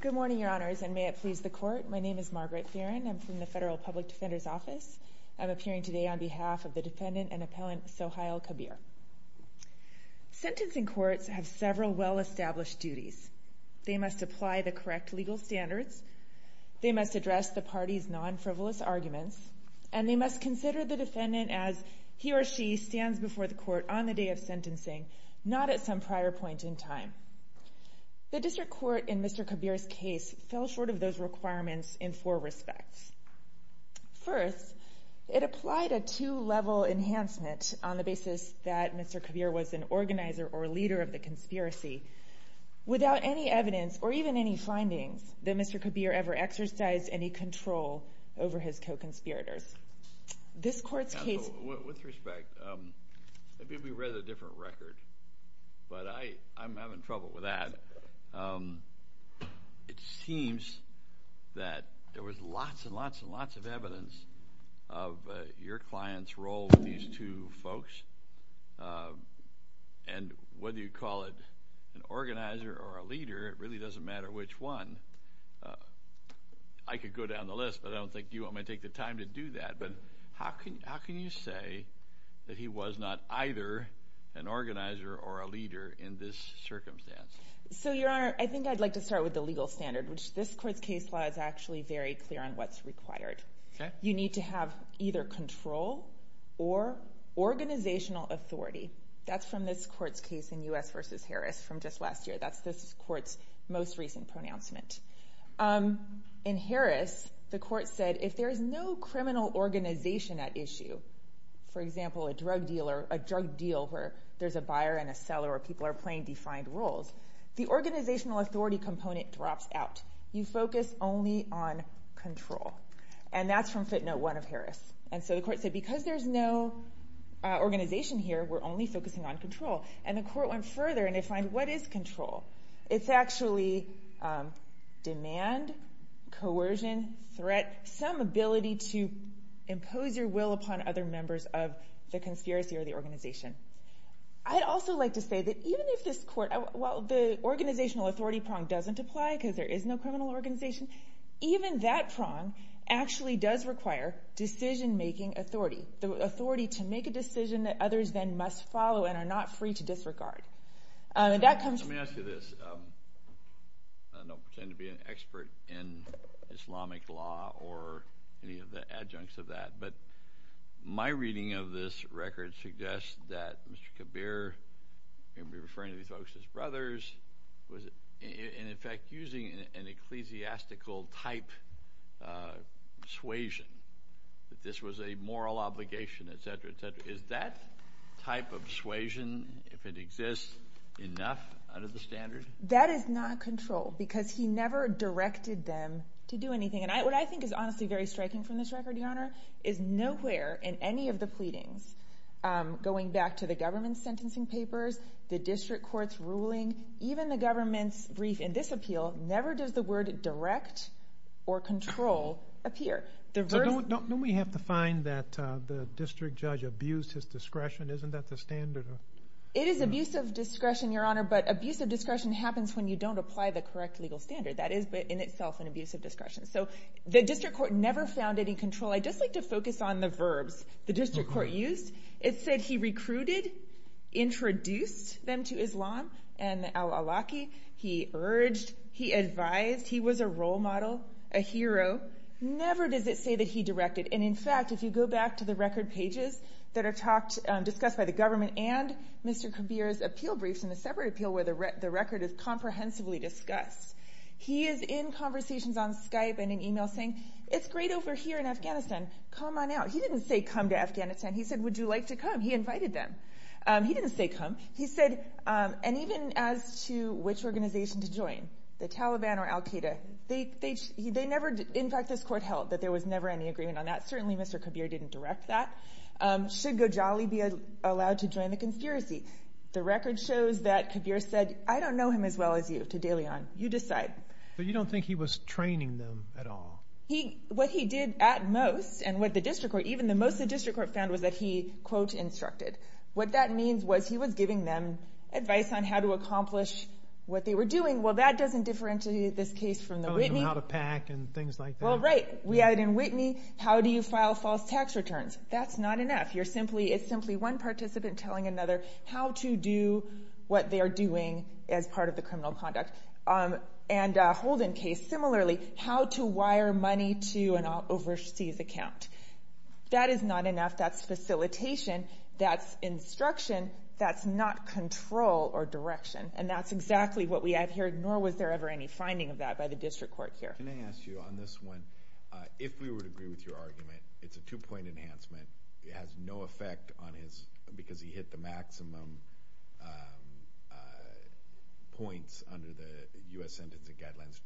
Good morning, your honors, and may it please the court. My name is Margaret Farrin. I'm from the Federal Public Defender's Office. I'm appearing today on behalf of the defendant and appellant Sohiel Kabir. Sentencing courts have several well-established duties. They must apply the correct legal standards. They must address the parties non-frivolous arguments. And they must consider the defendant as he or she stands before the court on the day of sentencing, not at some prior point in time. The district court in Mr. Kabir's case fell short of those requirements in four respects. First, it applied a two-level enhancement on the basis that Mr. Kabir was an organizer or leader of the conspiracy without any evidence or even any findings that Mr. Kabir ever exercised any control over his co-conspirators. With respect, maybe we read a different record, but I'm having trouble with that. It seems that there was lots and lots and lots of evidence of your client's role with these two folks, and whether you call it an organizer or a leader, it really doesn't matter which one. I could go down the list, but I don't think you want me to take the time to do that. But how can you say that he was not either an organizer or a leader in this circumstance? So, Your Honor, I think I'd like to start with the legal standard, which this court's case law is actually very clear on what's required. You need to have either control or organizational authority. That's from this court's case in U.S. v. Harris from just last year. That's this court's most recent pronouncement. In Harris, the court said if there is no criminal organization at issue, for example, a drug deal where there's a buyer and a seller or people are playing defined roles, the organizational authority component drops out. You focus only on control. And that's from footnote 1 of Harris. And so the court said because there's no organization here, we're only focusing on control. And the court went further and defined what is control. It's actually demand, coercion, threat, some ability to impose your will upon other members of the conspiracy or the organization. I'd also like to say that even if this court – while the organizational authority prong doesn't apply because there is no criminal organization, even that prong actually does require decision-making authority, the authority to make a decision that others then must follow and are not free to disregard. Let me ask you this. I don't pretend to be an expert in Islamic law or any of the adjuncts of that, but my reading of this record suggests that Mr. Kabir may be referring to these folks as brothers and in fact using an ecclesiastical type persuasion that this was a moral obligation, etc., etc. Is that type of persuasion, if it exists, enough out of the standard? That is not control because he never directed them to do anything. And what I think is honestly very striking from this record, Your Honor, is nowhere in any of the pleadings, going back to the government's sentencing papers, the district court's ruling, even the government's brief in this appeal, never does the word direct or control appear. Don't we have to find that the district judge abused his discretion? Isn't that the standard? It is abuse of discretion, Your Honor, but abuse of discretion happens when you don't apply the correct legal standard. That is in itself an abuse of discretion. So the district court never found any control. I'd just like to focus on the verbs the district court used. It said he recruited, introduced them to Islam and al-Awlaki. He urged, he advised, he was a role model, a hero. Never does it say that he directed. And in fact, if you go back to the record pages that are discussed by the government and Mr. Kabir's appeal briefs in the separate appeal where the record is comprehensively discussed, he is in conversations on Skype and in emails saying, it's great over here in Afghanistan. Come on out. He didn't say come to Afghanistan. He said, would you like to come? He invited them. He didn't say come. He said, and even as to which organization to join, the Taliban or al-Qaeda, they never, in fact, this court held that there was never any agreement on that. Certainly, Mr. Kabir didn't direct that. Should Gojali be allowed to join the conspiracy? The record shows that Kabir said, I don't know him as well as you, to De Leon. You decide. But you don't think he was training them at all? What he did at most and what the district court, even the most the district court found was that he, quote, instructed. What that means was he was giving them advice on how to accomplish what they were doing. Well, that doesn't differentiate this case from the Whitney. Telling them how to pack and things like that. Well, right. We have it in Whitney. How do you file false tax returns? That's not enough. You're simply, it's simply one participant telling another how to do what they are doing as part of the criminal conduct. And Holden case, similarly, how to wire money to an overseas account. That is not enough. That's facilitation. That's instruction. That's not control or direction. And that's exactly what we have here, nor was there ever any finding of that by the district court here. Can I ask you on this one, if we would agree with your argument, it's a two-point enhancement. It has no effect on his, because he hit the maximum points under the U.S. sentencing guidelines.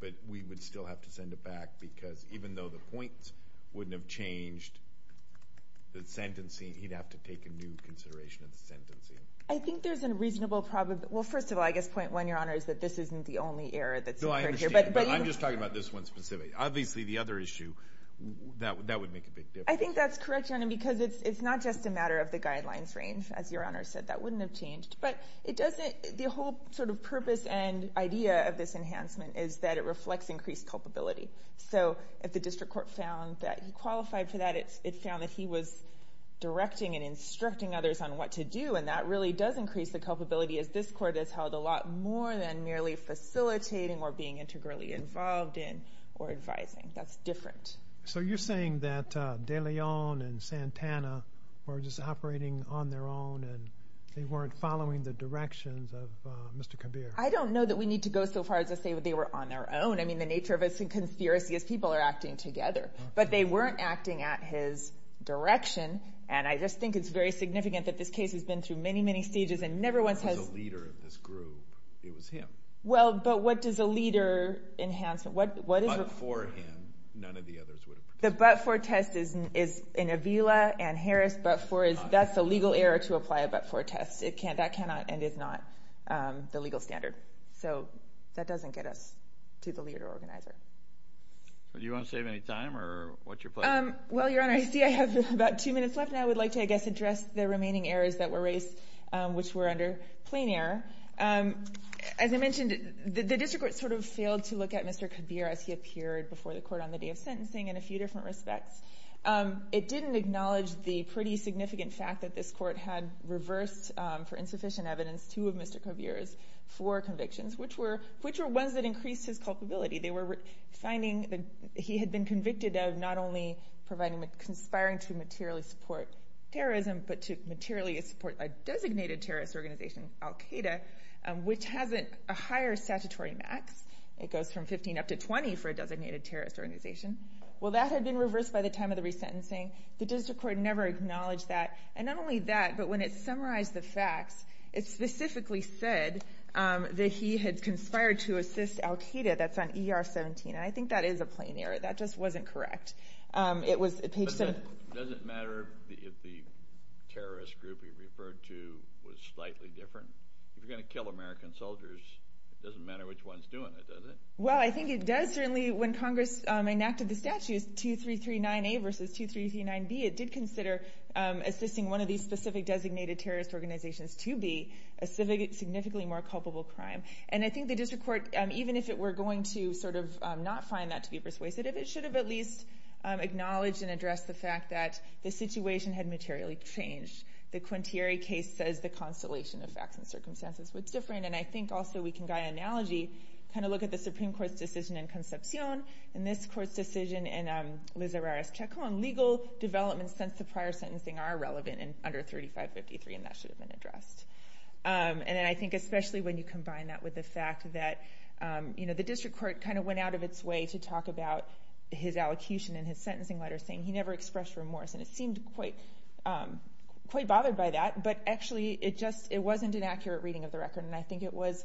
But we would still have to send it back because even though the points wouldn't have changed the sentencing, he'd have to take a new consideration of the sentencing. I think there's a reasonable, well, first of all, I guess point one, Your Honor, is that this isn't the only error that's occurred here. But I'm just talking about this one specifically. Obviously, the other issue, that would make a big difference. I think that's correct, Your Honor, because it's not just a matter of the guidelines range. As Your Honor said, that wouldn't have changed. But it doesn't, the whole sort of purpose and idea of this enhancement is that it reflects increased culpability. So if the district court found that he qualified for that, it found that he was directing and instructing others on what to do. And that really does increase the culpability, as this court has held a lot more than merely facilitating or being integrally involved in or advising. That's different. So you're saying that De Leon and Santana were just operating on their own and they weren't following the directions of Mr. Kabir. I don't know that we need to go so far as to say that they were on their own. I mean, the nature of it's a conspiracy is people are acting together. But they weren't acting at his direction, and I just think it's very significant that this case has been through many, many stages and never once has- If there was a leader of this group, it was him. Well, but what does a leader enhancement, what is- But for him, none of the others would have participated. The but-for test is in Avila and Harris, but-for is, that's a legal error to apply a but-for test. That cannot and is not the legal standard. So that doesn't get us to the leader organizer. Do you want to save any time, or what's your plan? Well, Your Honor, I see I have about two minutes left, and I would like to, I guess, address the remaining errors that were raised, which were under plain error. As I mentioned, the district court sort of failed to look at Mr. Kabir as he appeared before the court on the day of sentencing in a few different respects. It didn't acknowledge the pretty significant fact that this court had reversed, for insufficient evidence, two of Mr. Kabir's four convictions, which were ones that increased his culpability. They were finding that he had been convicted of not only providing, conspiring to materially support terrorism, but to materially support a designated terrorist organization, Al-Qaeda, which has a higher statutory max. It goes from 15 up to 20 for a designated terrorist organization. Well, that had been reversed by the time of the resentencing. The district court never acknowledged that. And not only that, but when it summarized the facts, it specifically said that he had conspired to assist Al-Qaeda. That's on ER 17, and I think that is a plain error. That just wasn't correct. It was page 7. But does it matter if the terrorist group he referred to was slightly different? If you're going to kill American soldiers, it doesn't matter which one's doing it, does it? Well, I think it does. Certainly when Congress enacted the statutes, 2339A versus 2339B, it did consider assisting one of these specific designated terrorist organizations to be a significantly more culpable crime. And I think the district court, even if it were going to sort of not find that to be persuasive, it should have at least acknowledged and addressed the fact that the situation had materially changed. The Quintieri case says the constellation of facts and circumstances was different, and I think also we can get an analogy, kind of look at the Supreme Court's decision in Concepcion, and this court's decision in Lizarrares-Chacon. Legal developments since the prior sentencing are relevant under 3553, and that should have been addressed. And I think especially when you combine that with the fact that the district court kind of went out of its way to talk about his allocution and his sentencing letter, saying he never expressed remorse. And it seemed quite bothered by that, but actually it wasn't an accurate reading of the record, and I think it was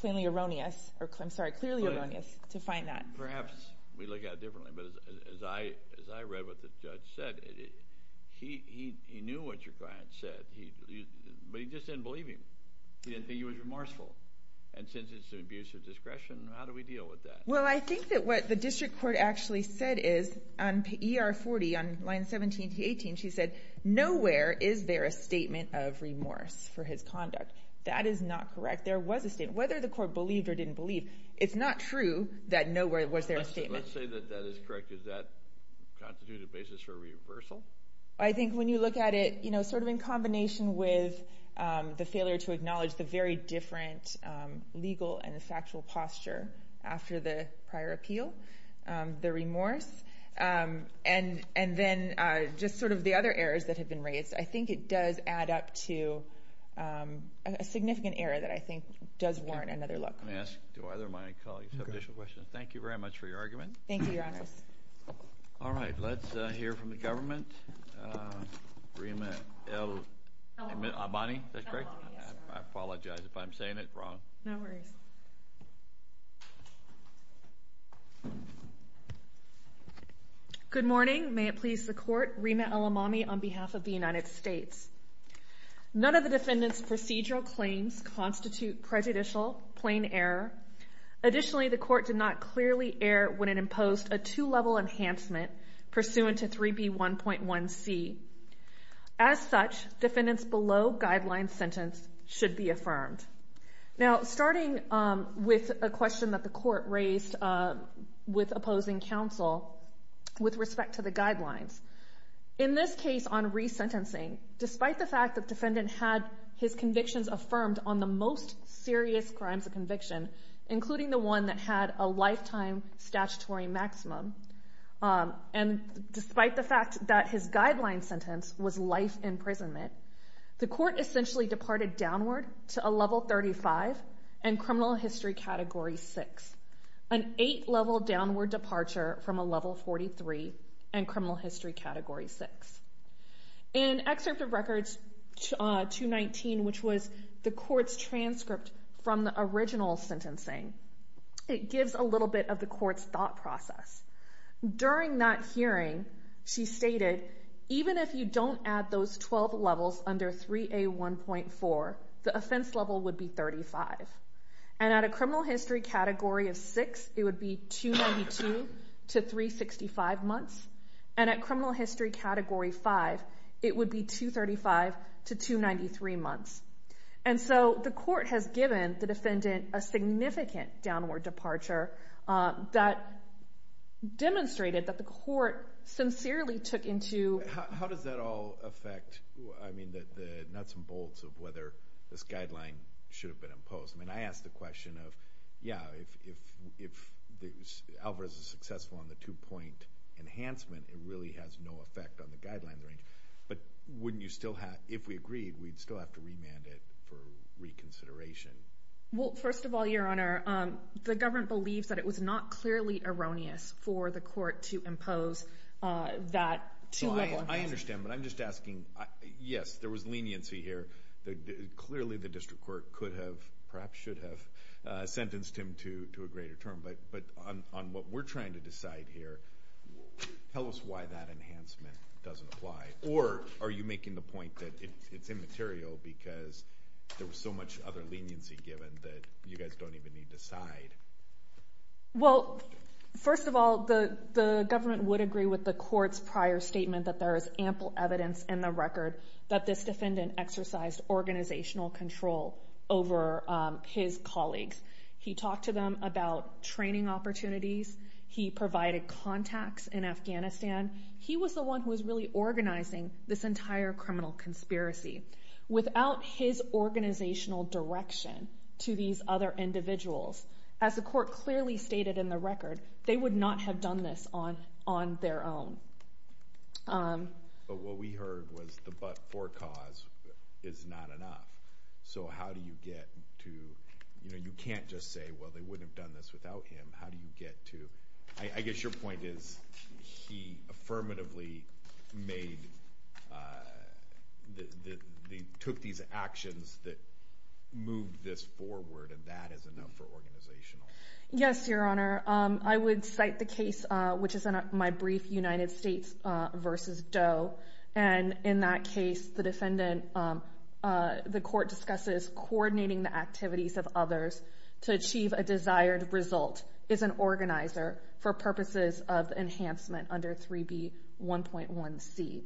clearly erroneous to find that. Perhaps we look at it differently, but as I read what the judge said, he knew what your client said, but he just didn't believe him. He didn't think he was remorseful. And since it's an abuse of discretion, how do we deal with that? Well, I think that what the district court actually said is on ER40, on line 17 to 18, she said, nowhere is there a statement of remorse for his conduct. That is not correct. There was a statement. Whether the court believed or didn't believe, it's not true that nowhere was there a statement. Let's say that that is correct. Does that constitute a basis for reversal? I think when you look at it sort of in combination with the failure to acknowledge the very different legal and the factual posture after the prior appeal, the remorse, and then just sort of the other errors that have been raised, I think it does add up to a significant error that I think does warrant another look. Let me ask two other of my colleagues some additional questions. Thank you very much for your argument. Thank you, Your Honors. All right. Let's hear from the government. Rima El-Abbani, is that correct? I apologize if I'm saying it wrong. No worries. Good morning. May it please the Court, Rima El-Abbani on behalf of the United States. None of the defendant's procedural claims constitute prejudicial plain error. Additionally, the court did not clearly err when it imposed a two-level enhancement pursuant to 3B1.1c. As such, defendants below guideline sentence should be affirmed. Now, starting with a question that the court raised with opposing counsel with respect to the guidelines, in this case on resentencing, despite the fact that the defendant had his convictions affirmed on the most serious crimes of conviction, including the one that had a lifetime statutory maximum, and despite the fact that his guideline sentence was life imprisonment, the court essentially departed downward to a level 35 and criminal history category 6, an eight-level downward departure from a level 43 and criminal history category 6. In Excerpt of Records 219, which was the court's transcript from the original sentencing, it gives a little bit of the court's thought process. During that hearing, she stated, even if you don't add those 12 levels under 3A1.4, the offense level would be 35. And at a criminal history category of 6, it would be 292 to 365 months, and at criminal history category 5, it would be 235 to 293 months. And so the court has given the defendant a significant downward departure that demonstrated that the court sincerely took into— How does that all affect the nuts and bolts of whether this guideline should have been imposed? I mean, I ask the question of, yeah, if Alvarez is successful on the two-point enhancement, it really has no effect on the guideline range. But wouldn't you still have—if we agreed, we'd still have to remand it for reconsideration? Well, first of all, Your Honor, the government believes that it was not clearly erroneous for the court to impose that two-level enhancement. I understand, but I'm just asking, yes, there was leniency here. Clearly the district court could have, perhaps should have, sentenced him to a greater term. But on what we're trying to decide here, tell us why that enhancement doesn't apply. Or are you making the point that it's immaterial because there was so much other leniency given that you guys don't even need to decide? Well, first of all, the government would agree with the court's prior statement that there is ample evidence in the record that this defendant exercised organizational control over his colleagues. He talked to them about training opportunities. He provided contacts in Afghanistan. He was the one who was really organizing this entire criminal conspiracy. Without his organizational direction to these other individuals, as the court clearly stated in the record, they would not have done this on their own. But what we heard was the but-for cause is not enough. So how do you get to—you know, you can't just say, well, they wouldn't have done this without him. I guess your point is he affirmatively took these actions that moved this forward, and that is enough for organizational. Yes, Your Honor. I would cite the case, which is my brief, United States v. Doe. And in that case, the defendant—the court discusses coordinating the activities of others to achieve a desired result as an organizer for purposes of enhancement under 3B1.1c.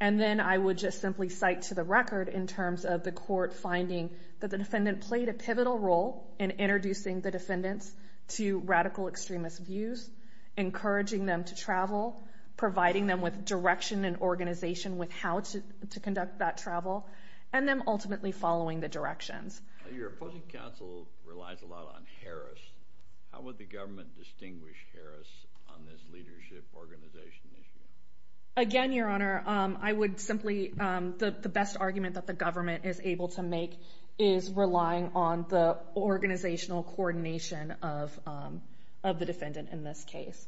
And then I would just simply cite to the record in terms of the court finding that the defendant played a pivotal role in introducing the defendants to radical extremist views, encouraging them to travel, providing them with direction and organization with how to conduct that travel, and them ultimately following the directions. Your opposing counsel relies a lot on Harris. How would the government distinguish Harris on this leadership organization issue? Again, Your Honor, I would simply—the best argument that the government is able to make is relying on the organizational coordination of the defendant in this case.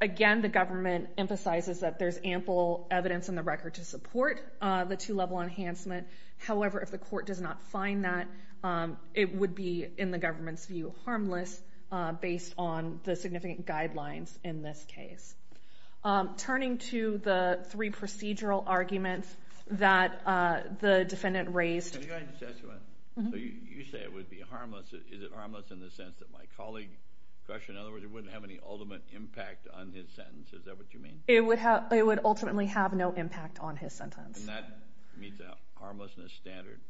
Again, the government emphasizes that there's ample evidence in the record to support the two-level enhancement. However, if the court does not find that, it would be, in the government's view, harmless, based on the significant guidelines in this case. Turning to the three procedural arguments that the defendant raised— Can I just ask you one? So you say it would be harmless. Is it harmless in the sense that my colleague questioned? In other words, it wouldn't have any ultimate impact on his sentence. Is that what you mean? It would ultimately have no impact on his sentence. And that meets a harmlessness standard.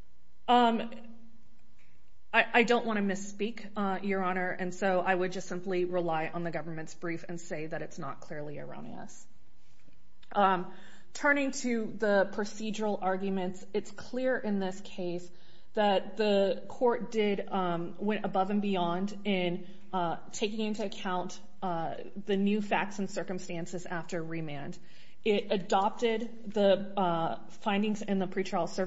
I don't want to misspeak, Your Honor, and so I would just simply rely on the government's brief and say that it's not clearly erroneous. Turning to the procedural arguments, it's clear in this case that the court went above and beyond in taking into account the new facts and circumstances after remand. It adopted the findings in the PSR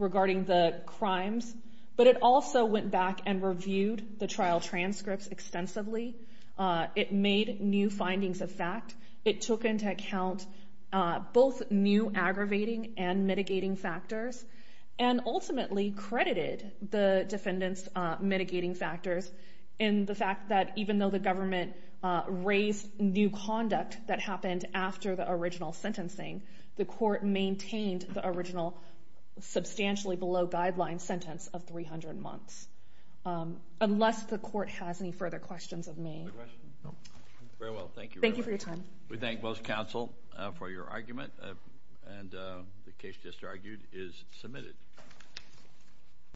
regarding the crimes, but it also went back and reviewed the trial transcripts extensively. It made new findings of fact. It took into account both new aggravating and mitigating factors and ultimately credited the defendant's mitigating factors in the fact that even though the government raised new conduct that happened after the original sentencing, the court maintained the original substantially below guideline sentence of 300 months, unless the court has any further questions of me. Very well. Thank you. Thank you for your time. We thank both counsel for your argument, and the case just argued is submitted.